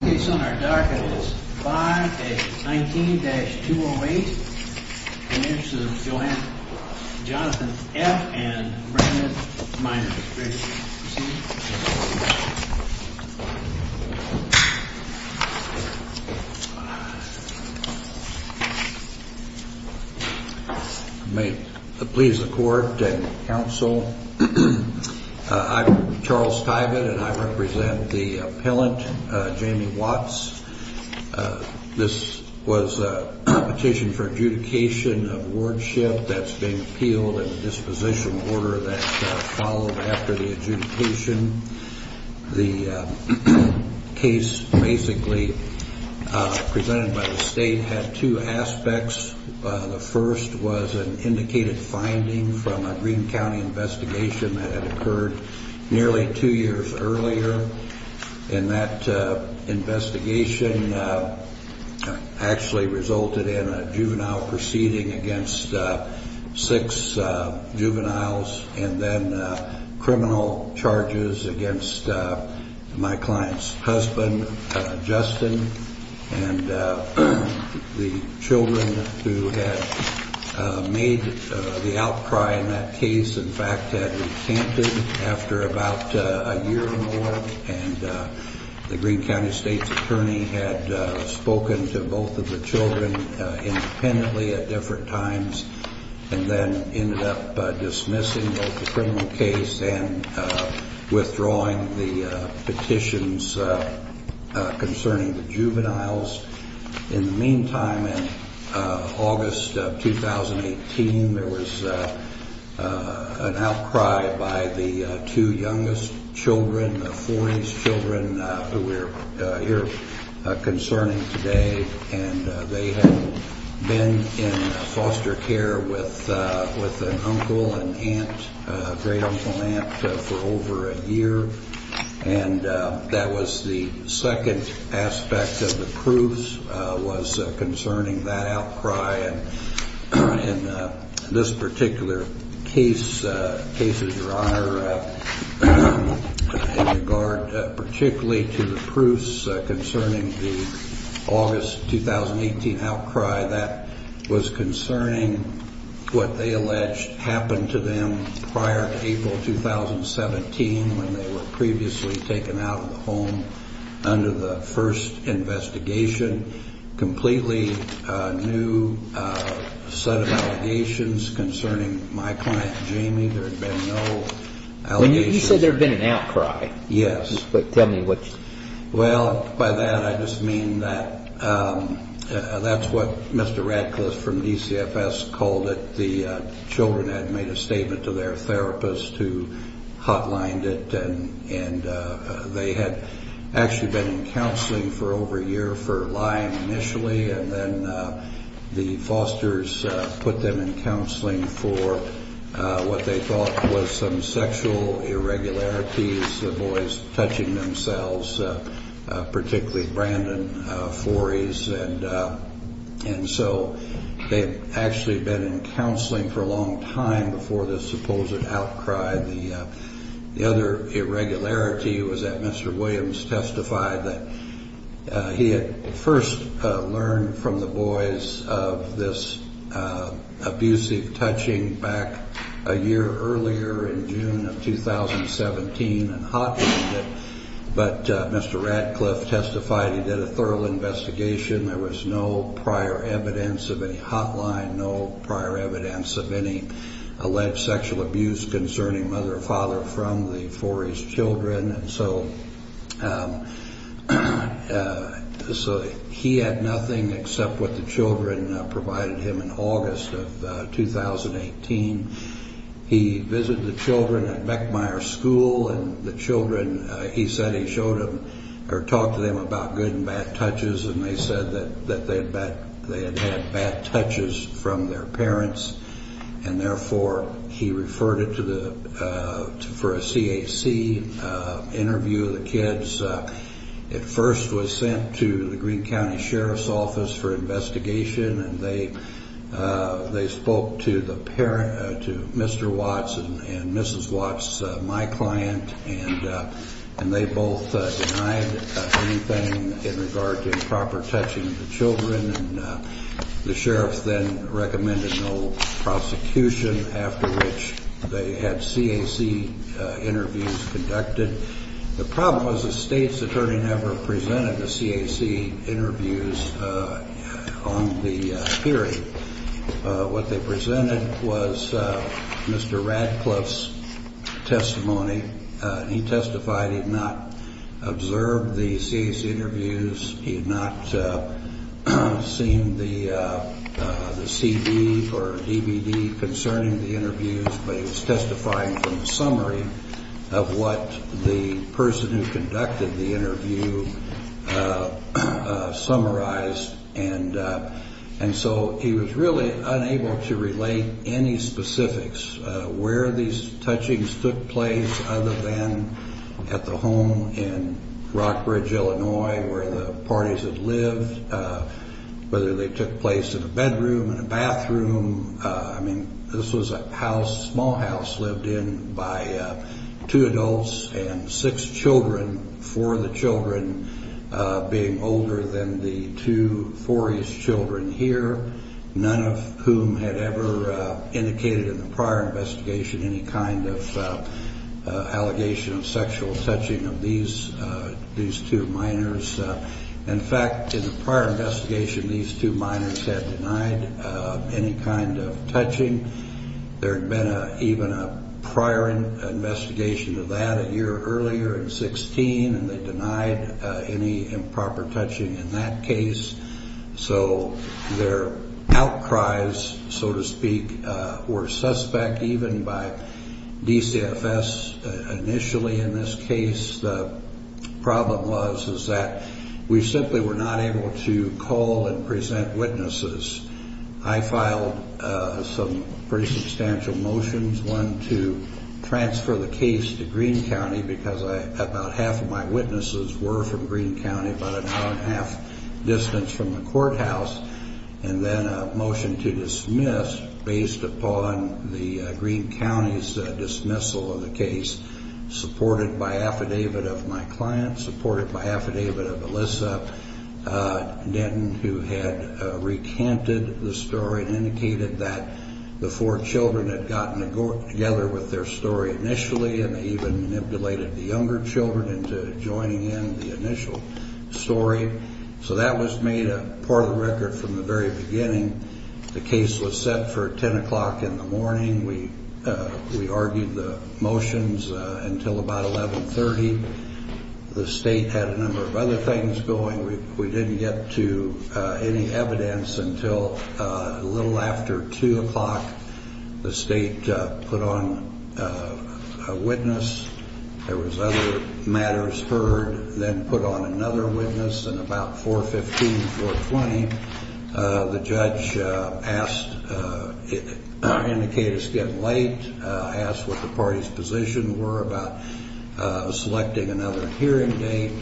May it please the court and counsel, I'm Charles Tyvett, and I represent the appellant, Jamie Walsh. This was a petition for adjudication of wardship that's being appealed in a disposition order that followed after the adjudication. The case basically presented by the state had two aspects. The first was an indicated finding from a Greene County investigation that had occurred nearly two years earlier. And that investigation actually resulted in a juvenile proceeding against six juveniles and then criminal charges against my client's husband, Justin, and the children who had made the outcry in that case, in fact, had recanted after about a year or more. And the Greene County State's attorney had spoken to both of the children independently at different times and then ended up dismissing the criminal case and withdrawing the petitions concerning the juveniles. In the meantime, in August of 2018, there was an outcry by the two youngest children, the 40s children who we're here concerning today. And they had been in foster care with an uncle and aunt, great-uncle-aunt, for over a year. And that was the second aspect of the proofs was concerning that outcry. And in this particular case, cases, Your Honor, in regard particularly to the proofs concerning the August 2018 outcry, that was concerning what they alleged happened to them prior to April 2017 when they were previously taken out of the home under the first investigation. Completely new set of allegations concerning my client, Jamie. There had been no allegations. You said there had been an outcry. Yes. Tell me what you mean. Well, by that I just mean that that's what Mr. Radcliffe from DCFS called it. The children had made a statement to their therapist who hotlined it. And they had actually been in counseling for over a year for lying initially. And then the fosters put them in counseling for what they thought was some sexual irregularities, the boys touching themselves, particularly Brandon, 40s. And so they had actually been in counseling for a long time before this supposed outcry. The other irregularity was that Mr. Williams testified that he had first learned from the boys of this abusive touching back a year earlier in June of 2017 and hotlined it. But Mr. Radcliffe testified he did a thorough investigation. There was no prior evidence of any hotline, no prior evidence of any alleged sexual abuse concerning mother or father from the 40s children. And so he had nothing except what the children provided him in August of 2018. He visited the children at Meckmeyer School. And the children, he said he showed them or talked to them about good and bad touches. And they said that they had had bad touches from their parents. And, therefore, he referred it for a CAC interview of the kids. It first was sent to the Greene County Sheriff's Office for investigation. And they spoke to Mr. Watts and Mrs. Watts, my client. And they both denied anything in regard to improper touching of the children. And the sheriff then recommended no prosecution, after which they had CAC interviews conducted. The problem was the state's attorney never presented the CAC interviews on the period. What they presented was Mr. Radcliffe's testimony. He testified he had not observed the CAC interviews. He had not seen the CD or DVD concerning the interviews. But he was testifying from the summary of what the person who conducted the interview summarized. And so he was really unable to relate any specifics where these touchings took place, other than at the home in Rockbridge, Illinois, where the parties had lived, whether they took place in a bedroom, in a bathroom. This was a small house lived in by two adults and six children, four of the children being older than the two fouries children here, none of whom had ever indicated in the prior investigation any kind of allegation of sexual touching of these two minors. In fact, in the prior investigation, these two minors had denied any kind of touching. There had been even a prior investigation of that a year earlier in 16, and they denied any improper touching in that case. So their outcries, so to speak, were suspect even by DCFS initially in this case. The problem was that we simply were not able to call and present witnesses. I filed some pretty substantial motions, one to transfer the case to Greene County because about half of my witnesses were from Greene County, about an hour and a half distance from the courthouse, and then a motion to dismiss based upon the Greene County's dismissal of the case, supported by affidavit of my client, supported by affidavit of Alyssa Denton, who had recanted the story and indicated that the four children had gotten together with their story initially and even manipulated the younger children into joining in the initial story. So that was made a part of the record from the very beginning. The case was set for 10 o'clock in the morning. We argued the motions until about 11.30. The state had a number of other things going. We didn't get to any evidence until a little after 2 o'clock. The state put on a witness. There was other matters heard, then put on another witness, and about 4.15, 4.20, the judge indicated it was getting late, asked what the party's position was about selecting another hearing date.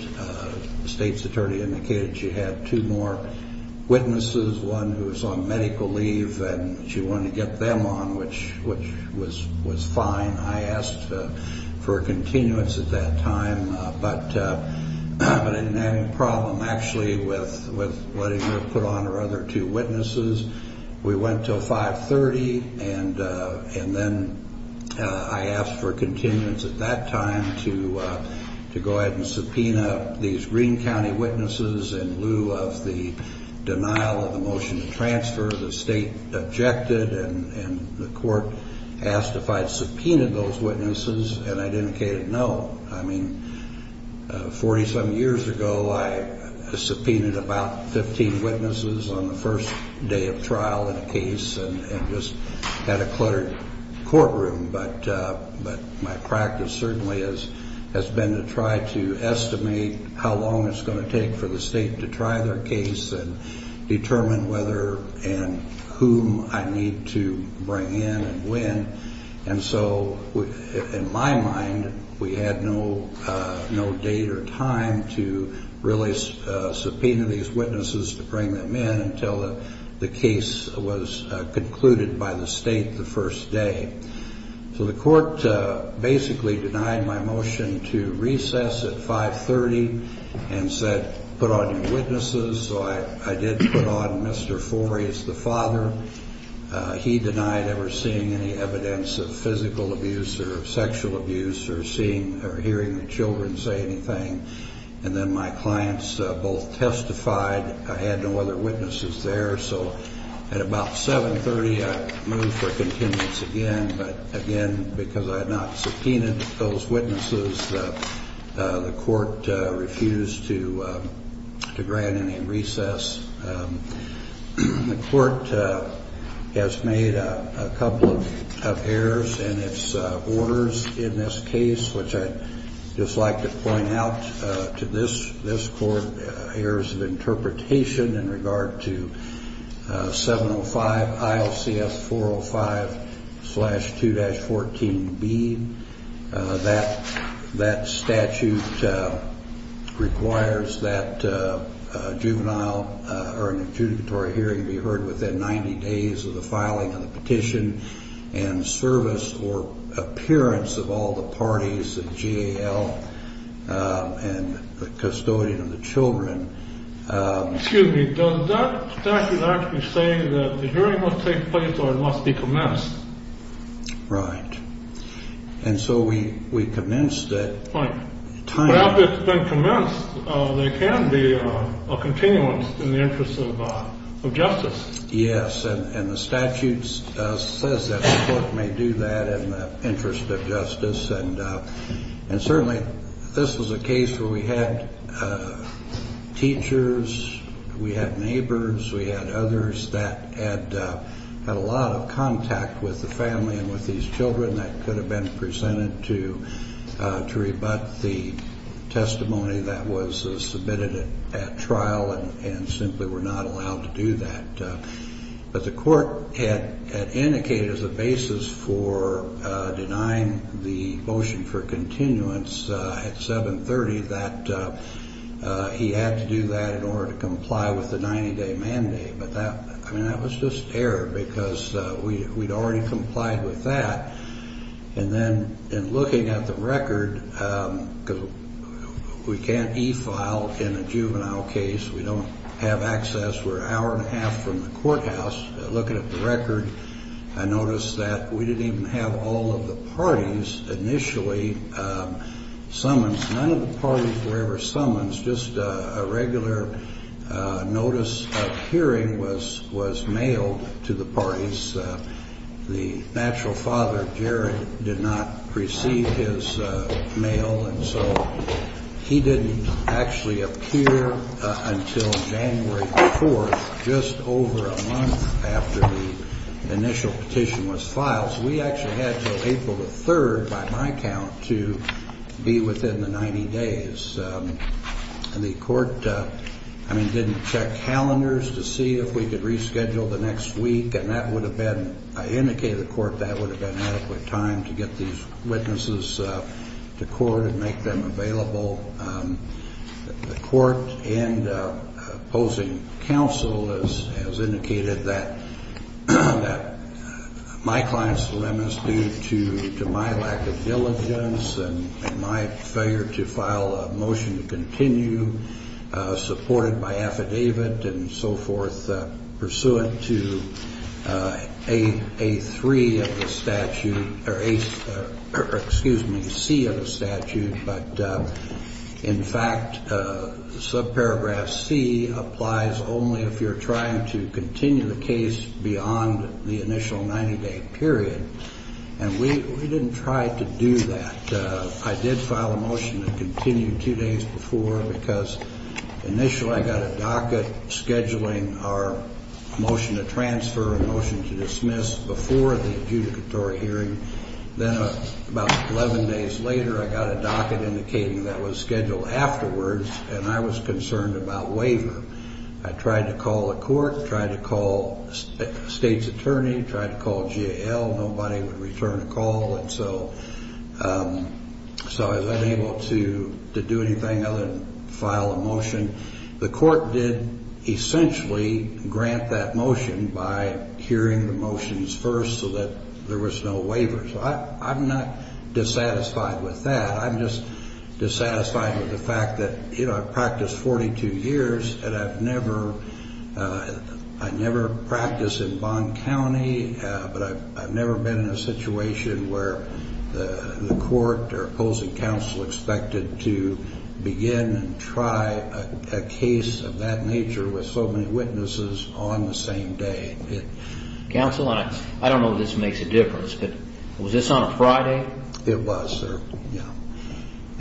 The state's attorney indicated she had two more witnesses, one who was on medical leave, and she wanted to get them on, which was fine. I asked for a continuance at that time, but I didn't have any problem, actually, with letting her put on her other two witnesses. We went until 5.30, and then I asked for continuance at that time to go ahead and subpoena these Greene County witnesses in lieu of the denial of the motion to transfer. The state objected, and the court asked if I had subpoenaed those witnesses, and I indicated no. I mean, 40-some years ago, I subpoenaed about 15 witnesses on the first day of trial in a case and just had a cluttered courtroom. But my practice certainly has been to try to estimate how long it's going to take for the state to try their case and determine whether and whom I need to bring in and when. And so, in my mind, we had no date or time to really subpoena these witnesses, to bring them in, until the case was concluded by the state the first day. So the court basically denied my motion to recess at 5.30 and said, put on your witnesses. So I did put on Mr. Foray's, the father. He denied ever seeing any evidence of physical abuse or sexual abuse or seeing or hearing the children say anything. And then my clients both testified. I had no other witnesses there. So at about 7.30, I moved for continuance again, but again, because I had not subpoenaed those witnesses, the court refused to grant any recess. The court has made a couple of errors in its orders in this case, which I'd just like to point out to this court, errors of interpretation in regard to 705 ILCS 405-2-14B. That statute requires that a juvenile or an adjudicatory hearing be heard within 90 days of the filing of the petition and service or appearance of all the parties, the JAL and the custodian of the children. Excuse me, does that statute actually say that the hearing must take place or it must be commenced? Right. And so we commenced it. But after it's been commenced, there can be a continuance in the interest of justice. Yes, and the statute says that the court may do that in the interest of justice. And certainly this was a case where we had teachers, we had neighbors, we had others that had a lot of contact with the family and with these children that could have been presented to rebut the testimony that was submitted at trial and simply were not allowed to do that. But the court had indicated as a basis for denying the motion for continuance at 730 that he had to do that in order to comply with the 90-day mandate. But that was just error because we'd already complied with that. And then in looking at the record, we can't e-file in a juvenile case. We don't have access. We're an hour and a half from the courthouse. Looking at the record, I noticed that we didn't even have all of the parties initially summons. None of the parties were ever summons. Just a regular notice of hearing was mailed to the parties. The natural father, Jared, did not receive his mail, and so he didn't actually appear until January 4th, just over a month after the initial petition was filed. So we actually had until April the 3rd, by my count, to be within the 90 days. And the court, I mean, didn't check calendars to see if we could reschedule the next week, and that would have been, I indicated to the court that would have been adequate time to get these witnesses to court and make them available. The court and opposing counsel has indicated that my clients were reminiscent due to my lack of diligence and my failure to file a motion to continue supported by affidavit and so forth, pursuant to A3 of the statute, or excuse me, C of the statute. But in fact, subparagraph C applies only if you're trying to continue the case beyond the initial 90-day period. And we didn't try to do that. I did file a motion to continue two days before because initially I got a docket scheduling our motion to transfer and motion to dismiss before the adjudicatory hearing. Then about 11 days later, I got a docket indicating that was scheduled afterwards, and I was concerned about waiver. I tried to call the court, tried to call the state's attorney, tried to call GAL. Nobody would return a call, and so I was unable to do anything other than file a motion. The court did essentially grant that motion by hearing the motions first so that there was no waiver. So I'm not dissatisfied with that. I'm just dissatisfied with the fact that, you know, I've practiced 42 years, and I've never practiced in Bond County, but I've never been in a situation where the court or opposing counsel expected to begin and try a case of that nature with so many witnesses on the same day. Counsel, I don't know if this makes a difference, but was this on a Friday? It was, sir.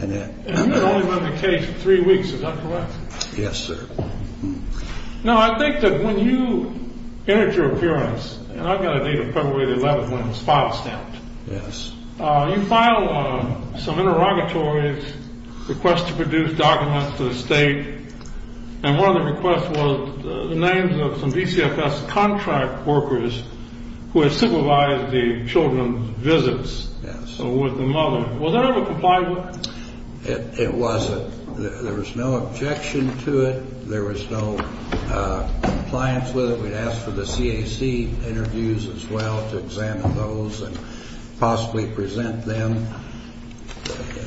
And it only went to case for three weeks, is that correct? Yes, sir. Now, I think that when you entered your appearance, and I got a date of probably the 11th when it was file stamped. Yes. You file some interrogatories, request to produce documents to the state, and one of the requests was the names of some DCFS contract workers who had supervised the children's visits with the mother. Was that ever complied with? It wasn't. There was no objection to it. There was no compliance with it. We'd ask for the CAC interviews as well to examine those and possibly present them.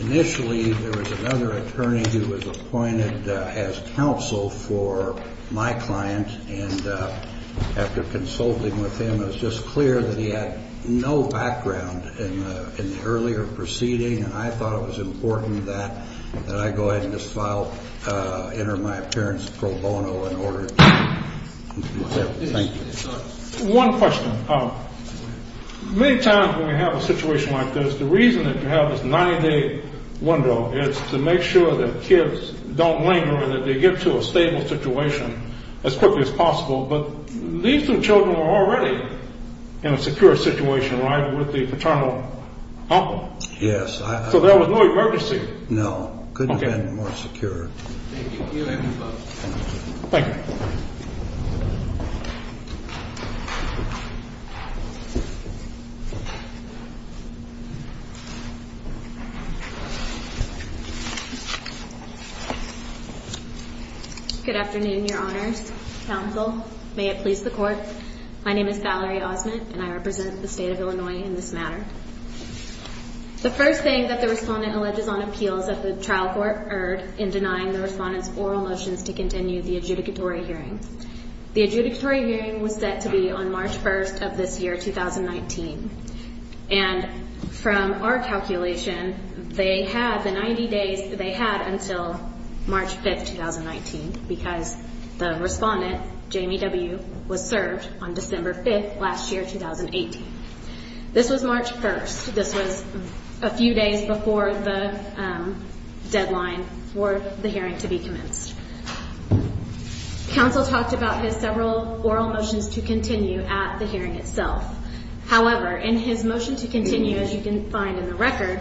Initially, there was another attorney who was appointed as counsel for my client, and after consulting with him, it was just clear that he had no background in the earlier proceeding, and I thought it was important that I go ahead and just enter my appearance pro bono in order to do that. Thank you. One question. Many times when we have a situation like this, the reason that you have this 90-day window is to make sure that kids don't linger and that they get to a stable situation as quickly as possible, but these two children were already in a secure situation, right, with the paternal uncle. Yes. So there was no emergency. No. Couldn't have been more secure. Thank you. Thank you both. Thank you. Thank you. Good afternoon, Your Honors. Counsel, may it please the Court. My name is Valerie Osment, and I represent the State of Illinois in this matter. The first thing that the Respondent alleges on appeal is that the trial court erred in denying the Respondent's oral motions to continue the adjudicatory hearing. The adjudicatory hearing was set to be on March 1st of this year, 2019, and from our calculation, they had the 90 days that they had until March 5th, 2019, because the Respondent, Jamie W., was served on December 5th last year, 2018. This was March 1st. This was a few days before the deadline for the hearing to be commenced. Counsel talked about his several oral motions to continue at the hearing itself. However, in his motion to continue, as you can find in the record,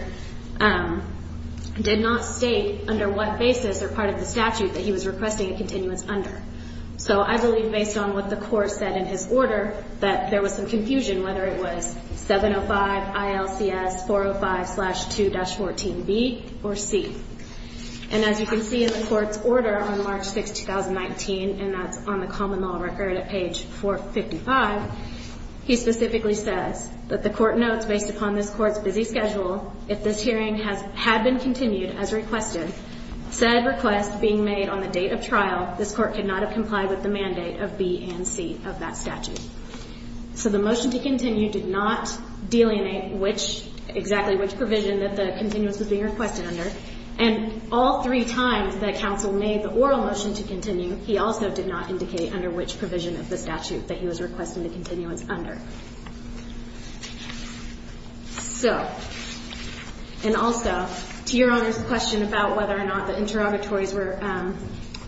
did not state under what basis or part of the statute that he was requesting a continuance under. So I believe, based on what the Court said in his order, that there was some confusion, whether it was 705 ILCS 405-2-14B or C. And as you can see in the Court's order on March 6th, 2019, and that's on the common law record at page 455, he specifically says that the Court notes, based upon this Court's busy schedule, if this hearing had been continued as requested, said request being made on the date of trial, this Court could not have complied with the mandate of B and C of that statute. So the motion to continue did not delineate exactly which provision that the continuance was being requested under. And all three times that counsel made the oral motion to continue, he also did not indicate under which provision of the statute that he was requesting the continuance under. So, and also, to Your Honor's question about whether or not the interrogatories were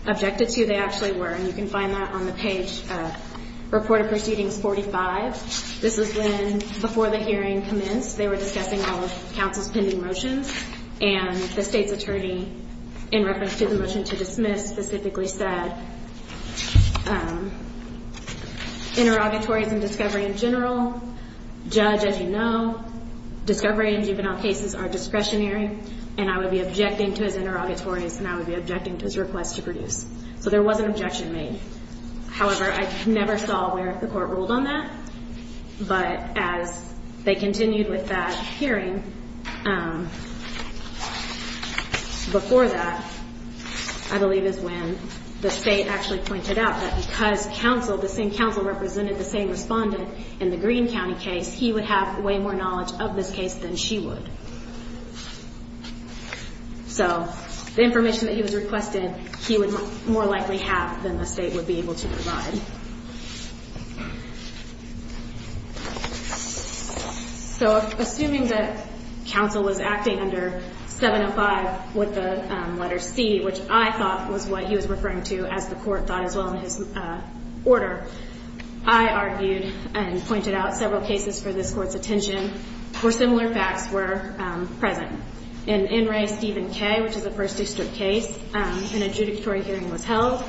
objected to, they actually were, and you can find that on the page of Report of Proceedings 45. This is when, before the hearing commenced, they were discussing all of counsel's pending motions, and the State's attorney, in reference to the motion to dismiss, specifically said, interrogatories and discovery in general, judge, as you know, discovery in juvenile cases are discretionary, and I would be objecting to his interrogatories, and I would be objecting to his request to produce. So there was an objection made. However, I never saw where the Court ruled on that, but as they continued with that hearing, before that, I believe is when the State actually pointed out that because counsel, the same counsel represented the same respondent in the Greene County case, he would have way more knowledge of this case than she would. So the information that he was requested, he would more likely have than the State would be able to provide. So assuming that counsel was acting under 705 with the letter C, which I thought was what he was referring to, as the Court thought as well in his order, I argued and pointed out several cases for this Court's attention, where similar facts were present. In N. Ray Stephen K., which is a First District case, an adjudicatory hearing was held,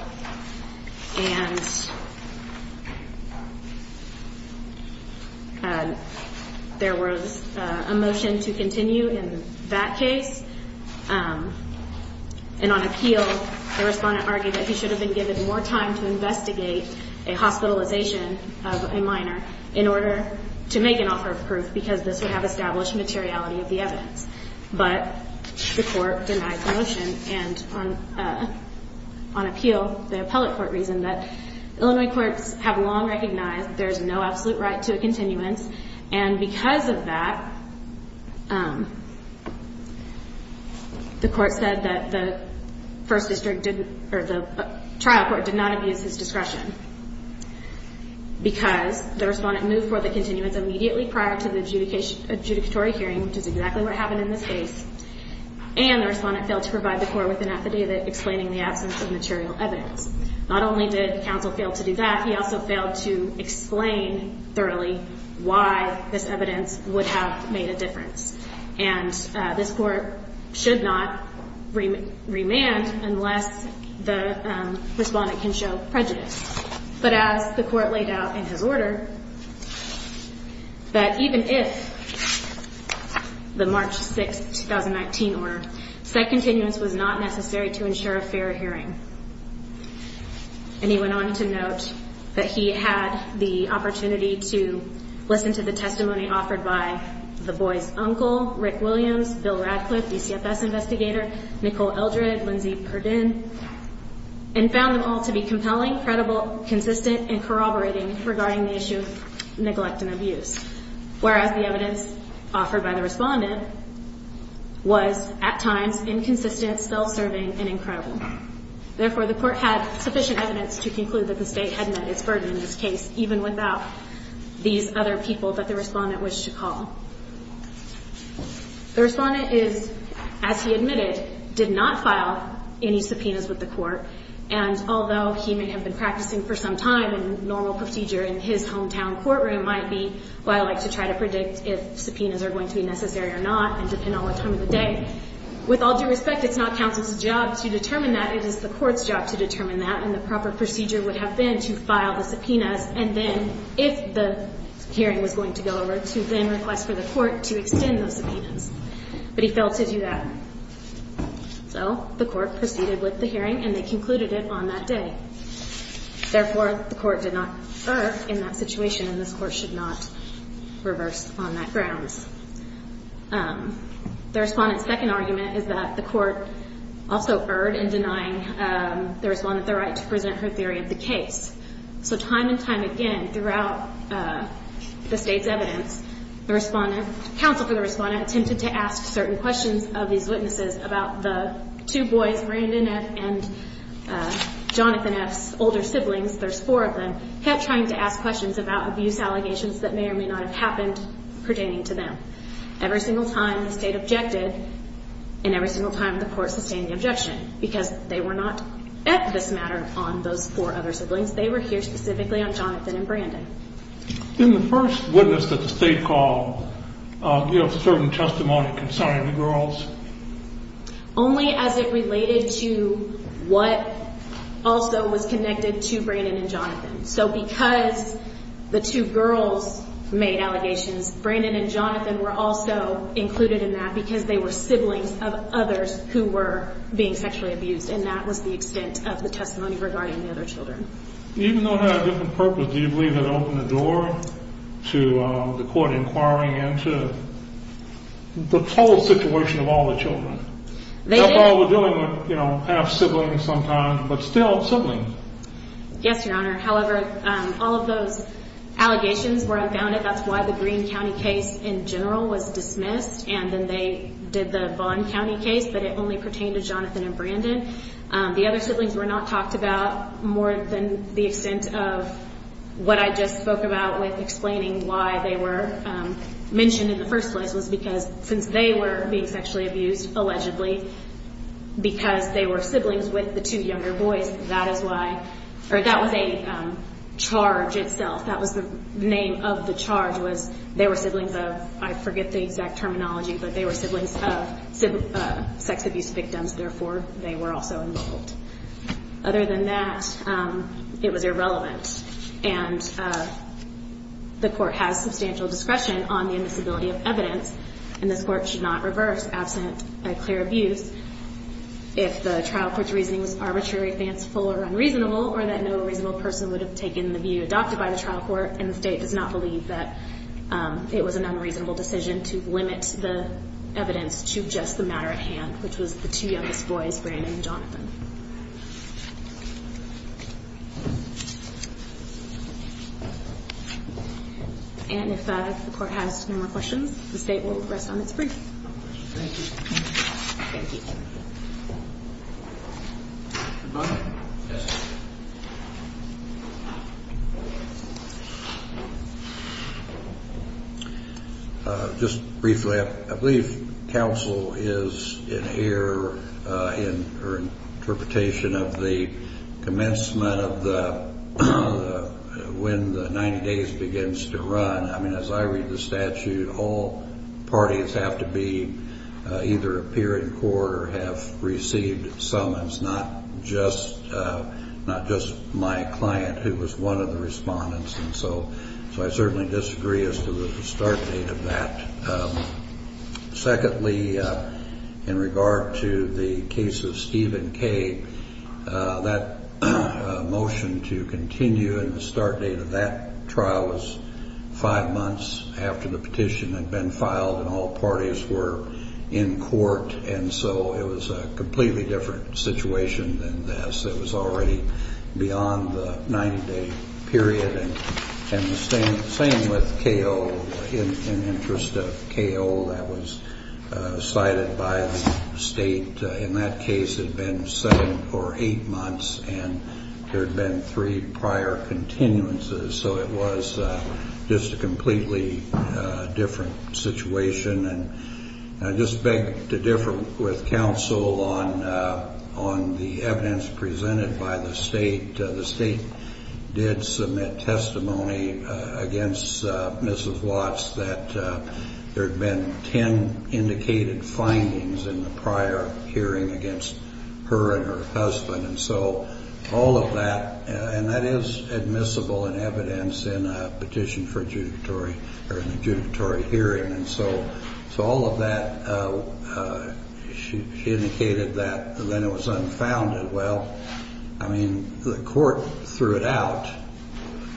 and there was a motion to continue in that case, and on appeal, the respondent argued that he should have been given more time to investigate a hospitalization of a minor in order to make an offer of proof, because this would have established materiality of the evidence. But the Court denied the motion, and on appeal, the appellate court reasoned that Illinois courts have long recognized there's no absolute right to a continuance, and because of that, the Court said that the First District didn't, or the trial court did not abuse his discretion, because the respondent moved for the continuance immediately prior to the adjudicatory hearing, which is exactly what happened in this case, and the respondent failed to provide the Court with an affidavit explaining the absence of material evidence. Not only did counsel fail to do that, he also failed to explain thoroughly why this evidence would have made a difference, and this Court should not remand unless the respondent can show prejudice. But as the Court laid out in his order, that even if the March 6, 2019 order, said continuance was not necessary to ensure a fair hearing, and he went on to note that he had the opportunity to listen to the testimony offered by the boy's uncle, Rick Williams, Bill Radcliffe, the CFS investigator, Nicole Eldred, Lindsey Perdin, and found them all to be compelling, credible, consistent, and corroborating regarding the issue of neglect and abuse, whereas the evidence offered by the respondent was, at times, inconsistent, self-serving, and incredible. Therefore, the Court had sufficient evidence to conclude that the State had met its burden in this case, even without these other people that the respondent was to call. The respondent is, as he admitted, did not file any subpoenas with the Court, and although he may have been practicing for some time, and normal procedure in his hometown courtroom might be, well, I like to try to predict if subpoenas are going to be necessary or not, and depend on the time of the day. With all due respect, it's not counsel's job to determine that. It is the Court's job to determine that, and the proper procedure would have been to file the subpoenas, and then, if the hearing was going to go over, to then request for the Court to extend those subpoenas. But he failed to do that. So the Court proceeded with the hearing, and they concluded it on that day. Therefore, the Court did not err in that situation, and this Court should not reverse on that grounds. The respondent's second argument is that the Court also erred in denying the respondent the right to present her theory of the case. So time and time again, throughout the State's evidence, counsel for the respondent attempted to ask certain questions of these witnesses about the two boys, Brandon F. and Jonathan F.'s older siblings, there's four of them, kept trying to ask questions about abuse allegations that may or may not have happened pertaining to them. Every single time the State objected, and every single time the Court sustained the objection, because they were not at this matter on those four other siblings, they were here specifically on Jonathan and Brandon. In the first witness that the State called, do you have certain testimony concerning the girls? Only as it related to what also was connected to Brandon and Jonathan. So because the two girls made allegations, Brandon and Jonathan were also included in that because they were siblings of others who were being sexually abused, and that was the extent of the testimony regarding the other children. Even though it had a different purpose, do you believe it opened the door to the Court inquiring into the whole situation of all the children? They did. All the children were half-siblings sometimes, but still siblings. Yes, Your Honor. However, all of those allegations were unfounded. That's why the Greene County case in general was dismissed, and then they did the Vaughn County case, but it only pertained to Jonathan and Brandon. The other siblings were not talked about more than the extent of what I just spoke about with explaining why they were mentioned in the first place, was because since they were being sexually abused, allegedly, because they were siblings with the two younger boys, that was a charge itself. That was the name of the charge was they were siblings of, I forget the exact terminology, but they were siblings of sex abuse victims, therefore they were also involved. Other than that, it was irrelevant, and the Court has substantial discretion on the invisibility of evidence, and this Court should not reverse, absent a clear abuse, if the trial court's reasoning was arbitrary, fanciful, or unreasonable, or that no reasonable person would have taken the view adopted by the trial court, and the State does not believe that it was an unreasonable decision to limit the evidence to just the matter at hand, which was the two youngest boys, Brandon and Jonathan. And if the Court has no more questions, the State will rest on its briefs. Thank you. Just briefly, I believe counsel is in here, or in the room, or in the room, or in the room, or in the room, or in the room, to make an interpretation of the commencement of the, when the 90 days begins to run. I mean, as I read the statute, all parties have to be, either appear in court or have received summons, not just my client, who was one of the respondents, and so I certainly disagree as to the start date of that. Secondly, in regard to the case of Stephen K., that motion to continue in the start date of that trial was five months after the petition had been filed, and all parties were in court, and so it was a completely different situation than this. It was already beyond the 90-day period, and the same with K.O. In the interest of K.O., that was cited by the State. In that case, it had been seven or eight months, and there had been three prior continuances, so it was just a completely different situation. And I just beg to differ with counsel on the evidence presented by the State. The State did submit testimony against Mrs. Watts that there had been ten indicated findings in the prior hearing against her and her husband, and so all of that, and that is admissible in evidence in a petition for a judicatory hearing, and so all of that, she indicated that, and then it was unfounded. Well, I mean, the court threw it out.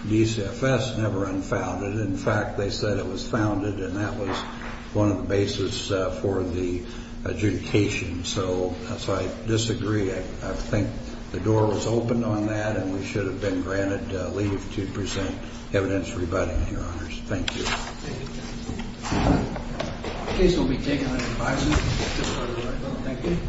DCFS never unfounded. In fact, they said it was founded, and that was one of the bases for the adjudication, so I disagree. I think the door was opened on that, and we should have been granted leave to present evidence rebutting, Your Honors. Thank you.